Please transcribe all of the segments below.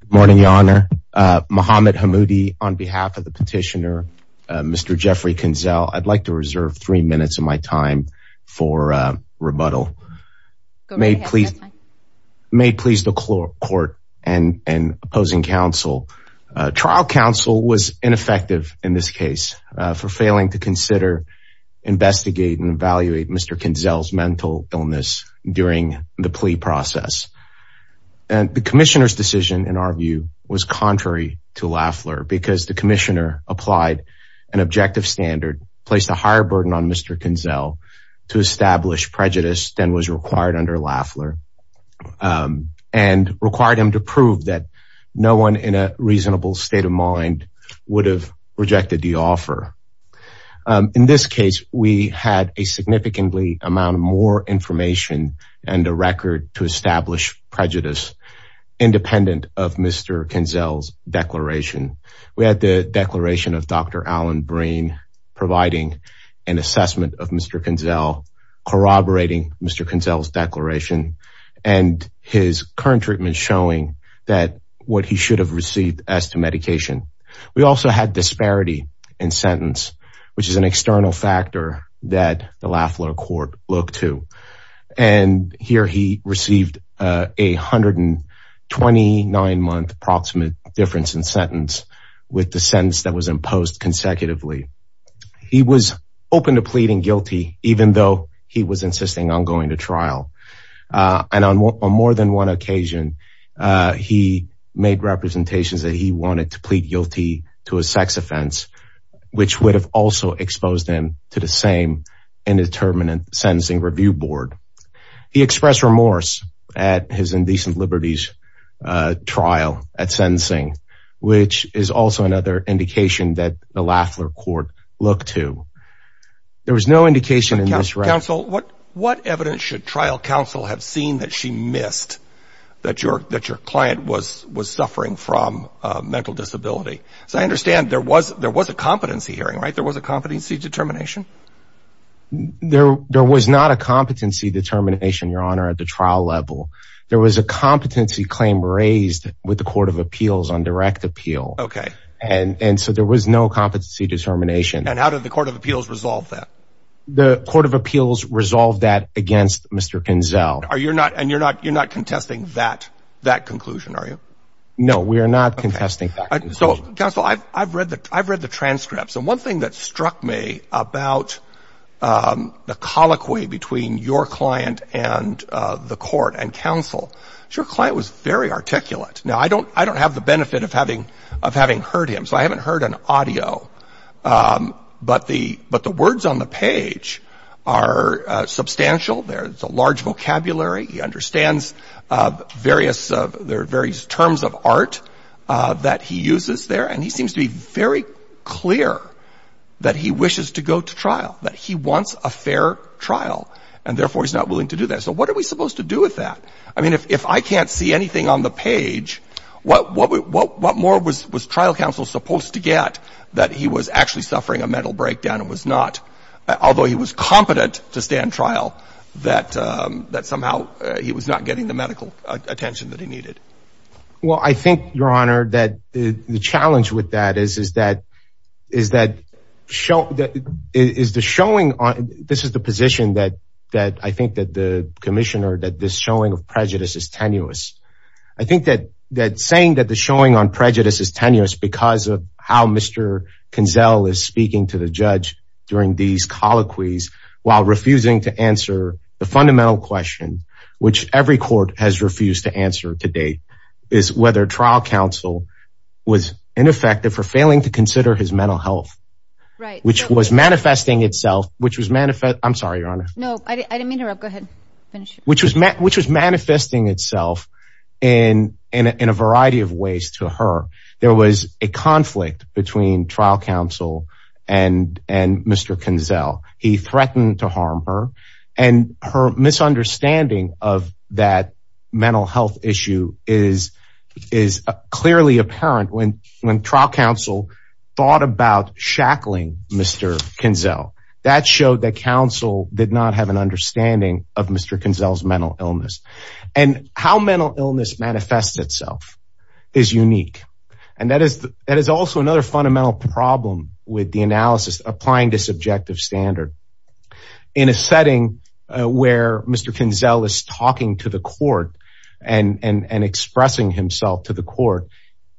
Good morning, Your Honor. Muhammad Hammoudi, on behalf of the petitioner, Mr. Jeffrey Kinzle, I'd like to reserve three minutes of my time for rebuttal. May it please the court and opposing counsel. Trial counsel was ineffective in this case for failing to consider, investigate and evaluate Mr. Kinzle's mental illness during the plea process. And the commissioner's decision in our view was contrary to Lafler because the commissioner applied an objective standard placed a higher burden on Mr. Kinzle to establish prejudice than was required under Lafler and required him to prove that no one in a reasonable state of mind would have rejected the offer. In this case, we had a significantly amount more information and a record to establish prejudice independent of Mr. Kinzle's declaration. We had the declaration of Dr. Alan Breen providing an assessment of Mr. Kinzle, corroborating Mr. Kinzle's declaration and his current treatment showing that what he should have received as to medication. We also had disparity in sentence, which is an external factor that the Lafler court looked to. And here he received a 129 month approximate difference in sentence with the sentence that was imposed consecutively. He was open to pleading guilty, even though he was insisting on going to trial. And on more than one occasion, he made representations that he wanted to plead guilty to a sex offense, which would have also exposed him to the same indeterminate sentencing review board. He expressed remorse at his indecent liberties trial at sentencing, which is also another indication that the Lafler court looked to. There was no indication in this trial. What that your, that your client was, was suffering from a mental disability. So I understand there was, there was a competency hearing, right? There was a competency determination. There, there was not a competency determination, your honor, at the trial level, there was a competency claim raised with the court of appeals on direct appeal. Okay. And so there was no competency determination. And how did the court of appeals resolve that? The court of appeals resolved that against Mr. Kinzel. Are you're not, and you're not, you're not contesting that, that conclusion, are you? No, we are not contesting. So counsel, I've, I've read the, I've read the transcripts. And one thing that struck me about, um, the colloquy between your client and, uh, the court and counsel, your client was very articulate. Now, I don't, I don't have the benefit of having, of having heard him. So I haven't The words on the page are, uh, substantial. There's a large vocabulary. He understands, uh, various, uh, there are various terms of art, uh, that he uses there. And he seems to be very clear that he wishes to go to trial, that he wants a fair trial and therefore he's not willing to do that. So what are we supposed to do with that? I mean, if, if I can't see anything on the page, what, what, what, what more was, was trial counsel supposed to get that he was actually suffering a mental breakdown and was not, although he was competent to stand trial, that, um, that somehow, uh, he was not getting the medical attention that he needed. Well, I think your honor, that the challenge with that is, is that, is that show that is the showing on, this is the position that, that I think that the commissioner, that this showing of prejudice is tenuous. I think that, that saying that the showing on prejudice is tenuous because of how Mr. Kinzel is speaking to the judge during these colloquies while refusing to answer the fundamental question, which every court has refused to answer to date is whether trial counsel was ineffective for failing to consider his mental health, which was manifesting itself, which was manifest. I'm sorry, your honor. No, I didn't mean to interrupt. Go ahead. Finish it. Which was met, which was manifesting itself in, in a variety of ways to her. There was a conflict between trial counsel and, and Mr. Kinzel. He threatened to harm her and her misunderstanding of that mental health issue is, is clearly apparent when, when trial counsel thought about shackling Mr. Kinzel. That showed that counsel did not have an understanding of Mr. Kinzel's mental illness and how mental illness manifests itself is unique. And that is, that is also another fundamental problem with the analysis, applying this objective standard in a setting where Mr. Kinzel is talking to the court and, and, and expressing himself to the court.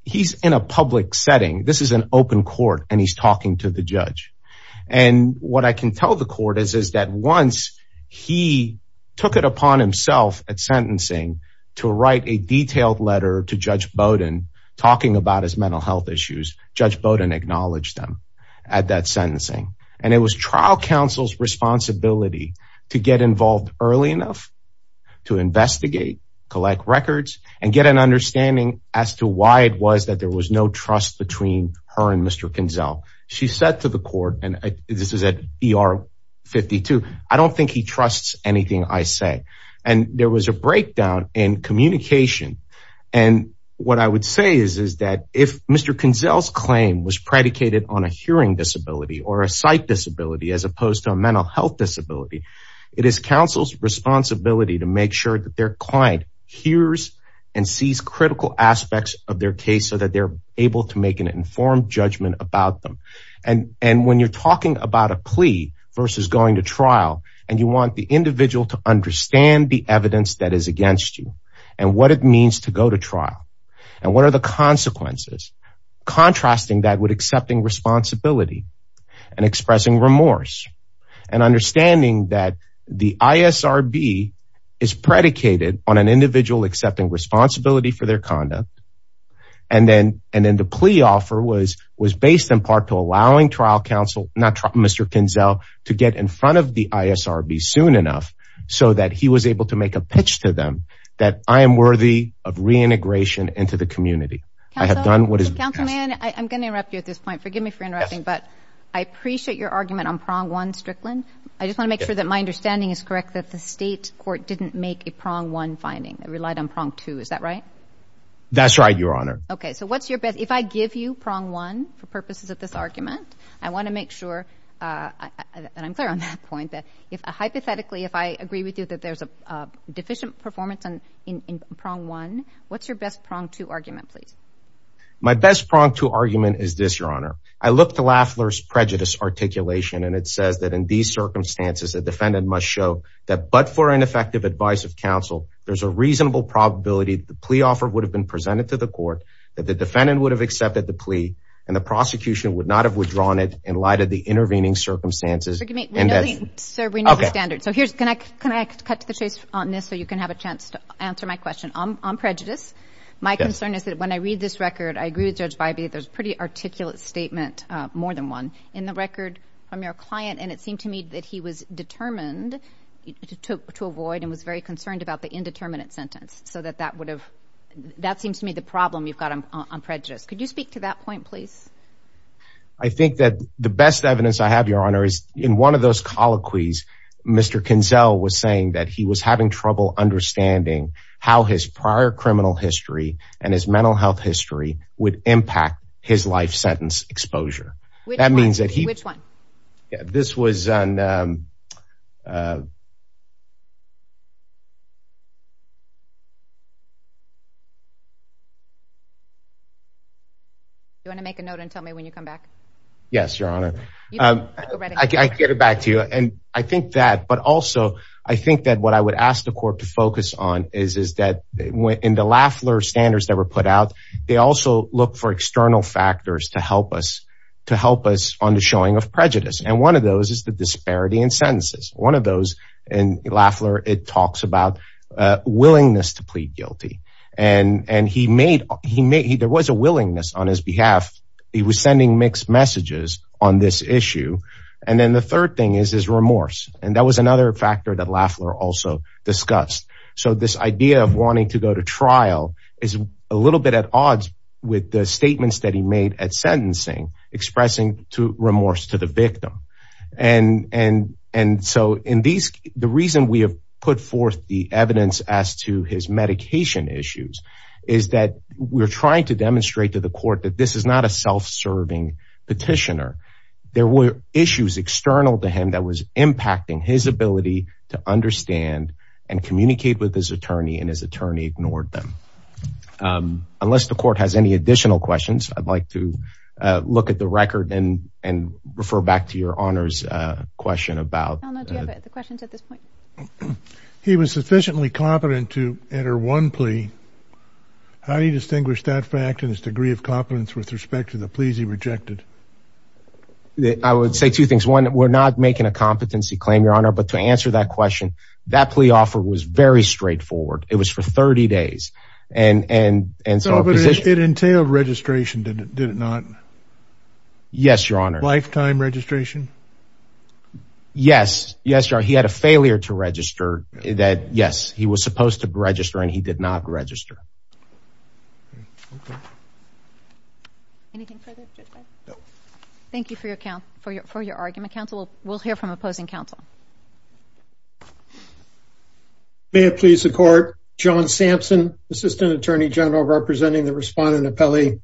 He's in a public setting. This is an open court and he's talking to the judge. And what I can tell the court is, is that once he took it upon himself at sentencing to write a detailed letter to judge Bowdoin talking about his mental health issues, judge Bowdoin acknowledged them at that sentencing. And it was trial counsel's responsibility to get involved early enough to investigate, collect records and get an understanding as to why it was that there was no trust between her and Mr. Kinzel. She said to the court, and this is at ER 52, I don't think he trusts anything I say. And there was a breakdown in communication. And what I would say is, is that if Mr. Kinzel's claim was predicated on a hearing disability or a sight disability, as opposed to a mental health disability, it is counsel's responsibility to make sure that their client hears and sees critical aspects of their case so that they're able to make an informed judgment about them. And, and when you're talking about a plea versus going to trial and you want the individual to understand the evidence that is against you and what it means to go to trial and what are the consequences, contrasting that with accepting responsibility and expressing remorse and understanding that the ISRB is predicated on an individual accepting responsibility for their conduct. And then, and then the plea offer was, was based in part to allowing trial counsel, not Mr. Kinzel, to get in front of the ISRB soon enough so that he was able to make a pitch to them that I am worthy of reintegration into the community. I have done what is... Your argument on prong one, Strickland. I just want to make sure that my understanding is correct, that the state court didn't make a prong one finding. It relied on prong two. Is that right? That's right, Your Honor. Okay. So what's your best... If I give you prong one for purposes of this argument, I want to make sure, and I'm clear on that point, that if hypothetically, if I agree with you that there's a deficient performance in prong one, what's your best prong two argument, please? My best prong two argument is this, Your Honor. I look to Lafler's prejudice articulation, and it says that in these circumstances, the defendant must show that but for ineffective advice of counsel, there's a reasonable probability that the plea offer would have been presented to the court, that the defendant would have accepted the plea, and the prosecution would not have withdrawn it in light of the intervening circumstances. Sir, we know the standards. So here's... Can I cut to the chase on this so you can have a chance to answer my question? On prejudice, my concern is that when I read this record, I agree with Judge Bybee, there's a pretty articulate statement, more than one, in the record from your client, and it seemed to me that he was determined to avoid and was very concerned about the indeterminate sentence, so that that would have... That seems to me the problem you've got on prejudice. Could you speak to that point, please? I think that the best evidence I have, Your Honor, is in one of those colloquies, Mr. Kinzel was saying that he was having trouble understanding how his prior criminal history and his mental health history would impact his life sentence exposure. That means that he... Which one? This was... You want to make a note and tell me when you come back? Yes, Your Honor. I'll get it back to you. And I think that... But also, I think that what I would ask the court to focus on is that in the Lafler standards that were put out, they also look for external factors to help us on the showing of prejudice. And one of those is the disparity in sentences. One of those in Lafler, it talks about willingness to plead guilty. And there was a willingness on his behalf. He was sending mixed messages on this issue. And then the third thing is his remorse. And that was another factor that Lafler also discussed. So this idea of wanting to go to trial is a little bit at odds with the statements that he made at sentencing expressing remorse to the victim. And so in these... The reason we have put forth the evidence as to his medication issues is that we're trying to demonstrate to the court that this is not a self-serving petitioner. There were issues external to him that was impacting his ability to understand and communicate with his attorney, and his attorney ignored them. Unless the court has any additional questions, I'd like to look at the record and refer back to Your Honor's question about... He was sufficiently competent to enter one plea. How do you distinguish that fact and his degree of competence with respect to the pleas he rejected? I would say two things. One, we're not making a competency claim, Your Honor, but to answer that question, that plea offer was very straightforward. It was for 30 days. And so... But it entailed registration, did it not? Yes, Your Honor. Lifetime registration? Yes. Yes, Your Honor. He had a failure to register that, yes, he was supposed to register, and he did not register. Anything further, Judge Byrd? No. Thank you for your argument. Counsel, we'll hear from opposing counsel. May it please the court. John Sampson, Assistant Attorney General, representing the respondent appellee.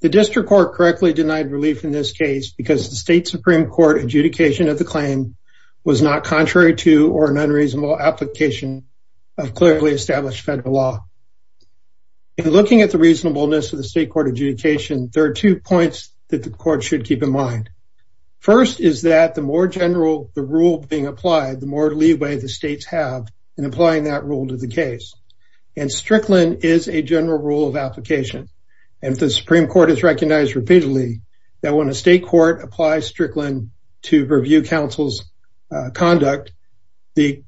The district court correctly denied relief in this case because the state supreme court adjudication of the claim was not contrary to or an unreasonable application of clearly established federal law. In looking at the reasonableness of the state court adjudication, there are two points that the court should keep in mind. First is that the more general the rule being applied, the more leeway the states have in applying that rule to the case. And Strickland is a general rule of application. And the Supreme Court has recognized repeatedly that when a state court applies Strickland to review counsel's conduct, the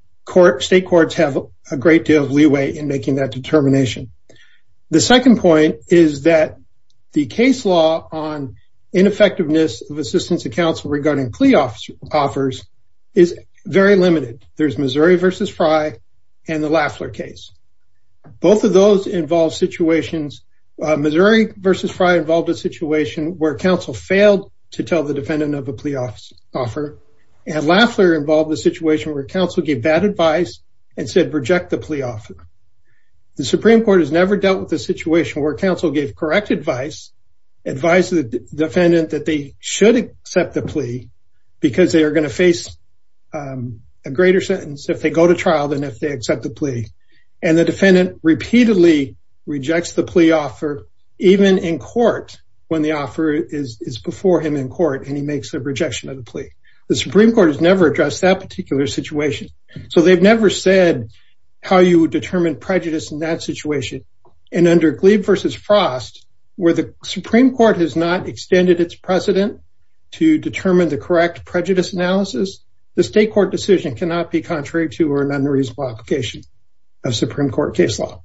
state courts have a great deal of leeway in making that determination. The second point is that the case law on ineffectiveness of assistance to counsel regarding plea offers is very limited. There's Missouri v. Frye and the Lafler case. Both of those involve situations. Missouri v. Frye involved a failed to tell the defendant of a plea offer. And Lafler involved a situation where counsel gave bad advice and said reject the plea offer. The Supreme Court has never dealt with a situation where counsel gave correct advice, advised the defendant that they should accept the plea because they are going to face a greater sentence if they go to trial than if they accept the plea. And the defendant repeatedly rejects the plea offer, even in court when the offer is before him in court and he makes a rejection of the plea. The Supreme Court has never addressed that particular situation. So they've never said how you would determine prejudice in that situation. And under Glebe v. Frost, where the Supreme Court has not extended its precedent to determine the correct prejudice analysis, the state court decision cannot be contrary to or non-reasonable application of Supreme Court case law.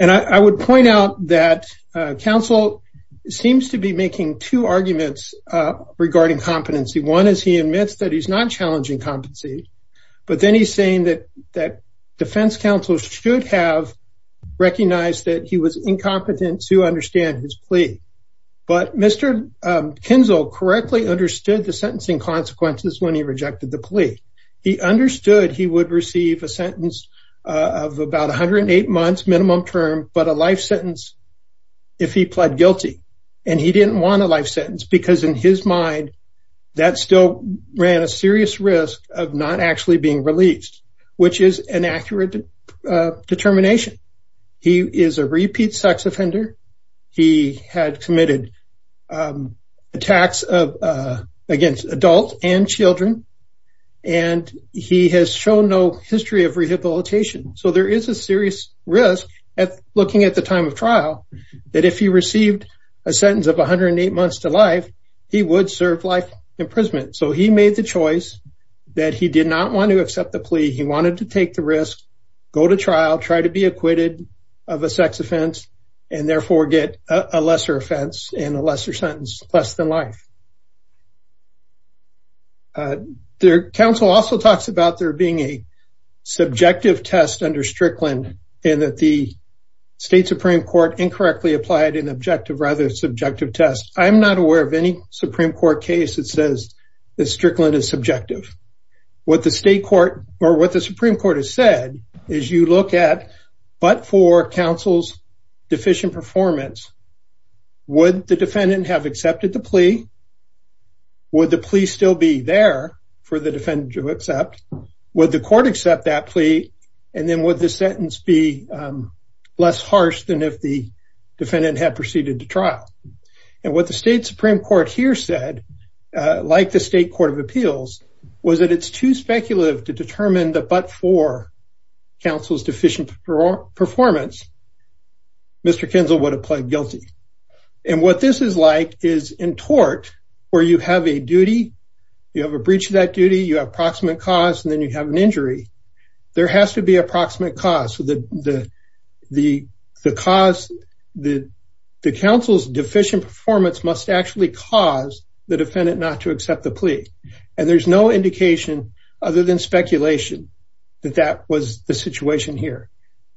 And I would point out that counsel seems to be making two arguments regarding competency. One is he admits that he's not challenging competency, but then he's saying that defense counsel should have recognized that he was incompetent to understand his plea. But Mr. Kinzel correctly understood the sentencing consequences when he rejected the plea. He understood he would receive a sentence of about 108 months minimum term, but a life sentence if he pled guilty. And he didn't want a life sentence because in his mind that still ran a serious risk of not actually being released, which is an accurate determination. He is a repeat sex offender. He had committed attacks against adults and children, and he has shown no history of rehabilitation. So there is a serious risk at looking at the time of trial that if he received a sentence of 108 months to life, he would serve life imprisonment. So he made the choice that he did not want to accept the plea. He wanted to take the risk, go to trial, try to be acquitted of a sex offense, and therefore get a lesser offense and a lesser sentence, less than life. Counsel also talks about there being a subjective test under Strickland, and that the state Supreme Court incorrectly applied an objective rather subjective test. I'm not aware of any Supreme Court case that says that Strickland is subjective. What the Supreme Court has said is you look at, but for counsel's deficient performance, would the defendant have accepted the plea? Would the plea still be there for the defendant to accept? Would the court accept that plea? And then would the sentence be less harsh than if the defendant had proceeded to trial? And what the state Supreme Court here said, like the State Court of Appeals, was that it's too speculative to determine that but for counsel's deficient performance, Mr. Kinzel would have pled guilty. And what this is like is in tort, where you have a duty, you have a breach of that duty, you have proximate cause, and then you have an injury. There has to be a proximate cause. The counsel's deficient performance must actually cause the defendant not to accept the plea. And there's no indication other than speculation that that was the situation here.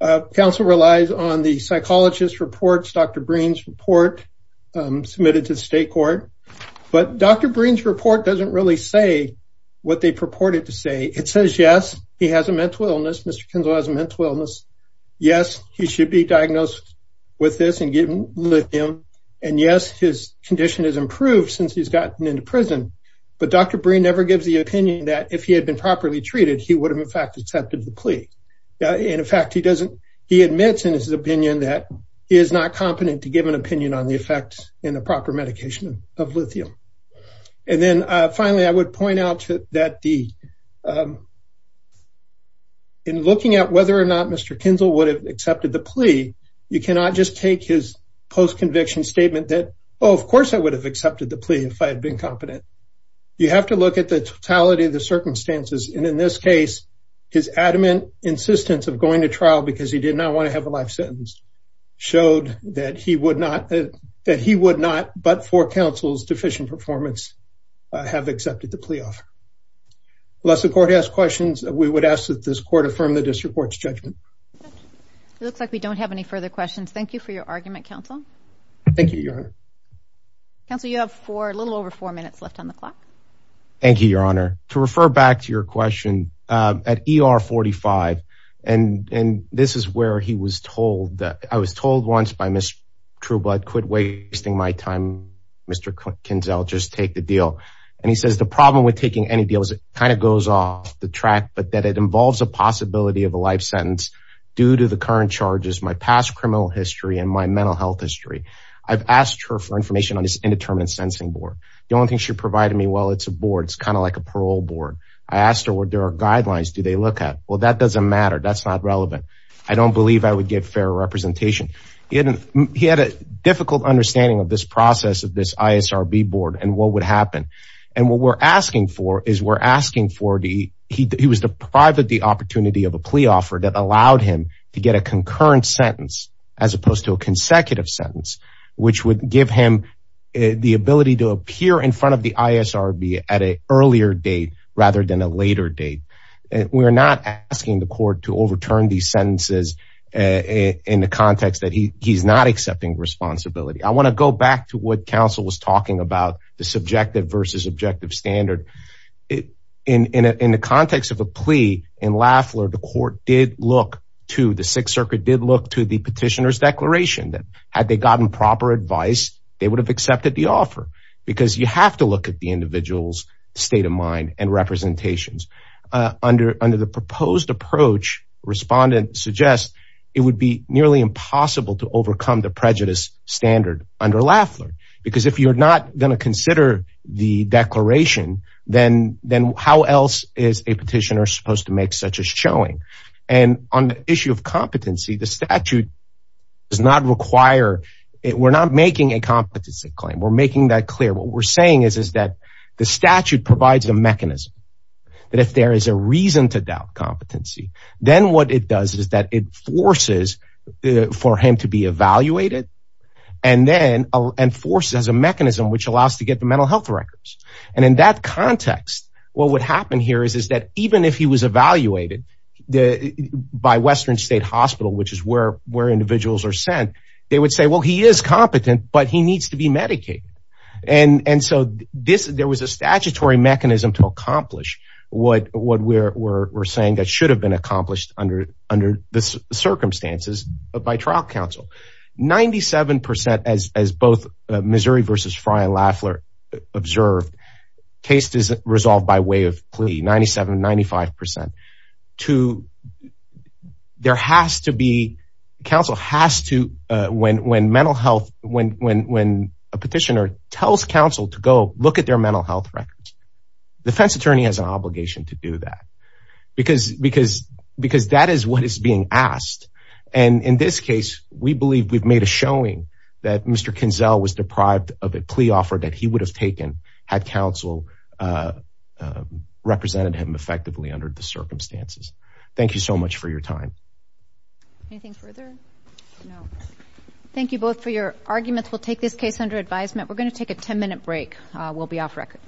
Counsel relies on the psychologist reports, Dr. Breen's report submitted to the state court. But Dr. Breen's report doesn't really say what they purported to say. It says, yes, he has a mental illness. Mr. Kinzel has a mental illness. Yes, he should be diagnosed with this and given lithium. And yes, his condition has improved since he's gotten into prison. But Dr. Breen never gives the opinion that if he had been properly treated, he would have in fact accepted the plea. In fact, he admits in his opinion that he is not competent to give an opinion on the effects in the proper medication of lithium. And then finally, I would point out that in looking at whether or not Mr. Kinzel would have accepted the plea, you cannot just take his post-conviction statement that, oh, of course I would have accepted the plea if I had been competent. You have to look at the totality of the circumstances. And in this case, his adamant insistence of going to trial because he did not want to have a life sentence showed that he would not, but for counsel's deficient performance, have accepted the plea offer. Unless the court has questions, we would ask that this court affirm the district court's judgment. It looks like we don't have any further questions. Thank you for your argument, counsel. Thank you, Your Honor. Counsel, you have a little over four minutes left on the clock. Thank you, Your Honor. To refer back to your question, at ER 45, and this is where I was told once by Ms. Trueblood, quit wasting my time, Mr. Kinzel, just take the deal. And he says the problem with taking any deal is it kind of goes off the track, but that it involves a possibility of a life sentence due to the current charges, my past criminal history, and my mental health history. I've asked her for information on this indeterminate sentencing board. The only thing she provided me, well, it's a board. It's kind of like a parole board. I asked her what their guidelines do they look at. Well, that doesn't matter. That's not relevant. I don't believe I would get fair representation. He had a difficult understanding of this process of this ISRB board and what would happen. And what we're asking for is we're asking for the, he was deprived of the opportunity of a plea offer that allowed him to get a concurrent sentence as opposed to a consecutive sentence, which would give him the ability to appear in front of the ISRB at an date rather than a later date. We're not asking the court to overturn these sentences in the context that he's not accepting responsibility. I want to go back to what counsel was talking about the subjective versus objective standard. In the context of a plea in Lafleur, the court did look to the sixth circuit, did look to the petitioner's declaration that had they gotten proper advice, they would have accepted the offer because you have to look at the individual's state of mind and representations. Under the proposed approach, respondent suggests it would be nearly impossible to overcome the prejudice standard under Lafleur because if you're not going to consider the declaration, then how else is a petitioner supposed to make such a showing? And on the issue of competency, the statute does not require, we're not making a competency claim. We're making that clear. What we're saying is that the statute provides a mechanism that if there is a reason to doubt competency, then what it does is that it forces for him to be evaluated and then enforces a mechanism which allows to get the mental health records. And in that context, what would happen here is that even if he was evaluated by Western State Hospital, which is where individuals are sent, they would say, well, he is competent, but he needs to be medicated. And so, there was a statutory mechanism to accomplish what we're saying that should have been accomplished under the circumstances by trial counsel. Ninety-seven percent, as both Missouri versus Frye and Lafleur observed, case is resolved by way of plea. Ninety-seven, ninety-five percent. There has to be, counsel has to, when a petitioner tells counsel to go look at their mental health records, defense attorney has an obligation to do that because that is what is being asked. And in this case, we believe we've made a showing that Mr. Kinzel was deprived of a plea offer that had counsel represented him effectively under the circumstances. Thank you so much for your time. Thank you both for your arguments. We'll take this case under advisement. We're going to take a 10-minute break. We'll be off record.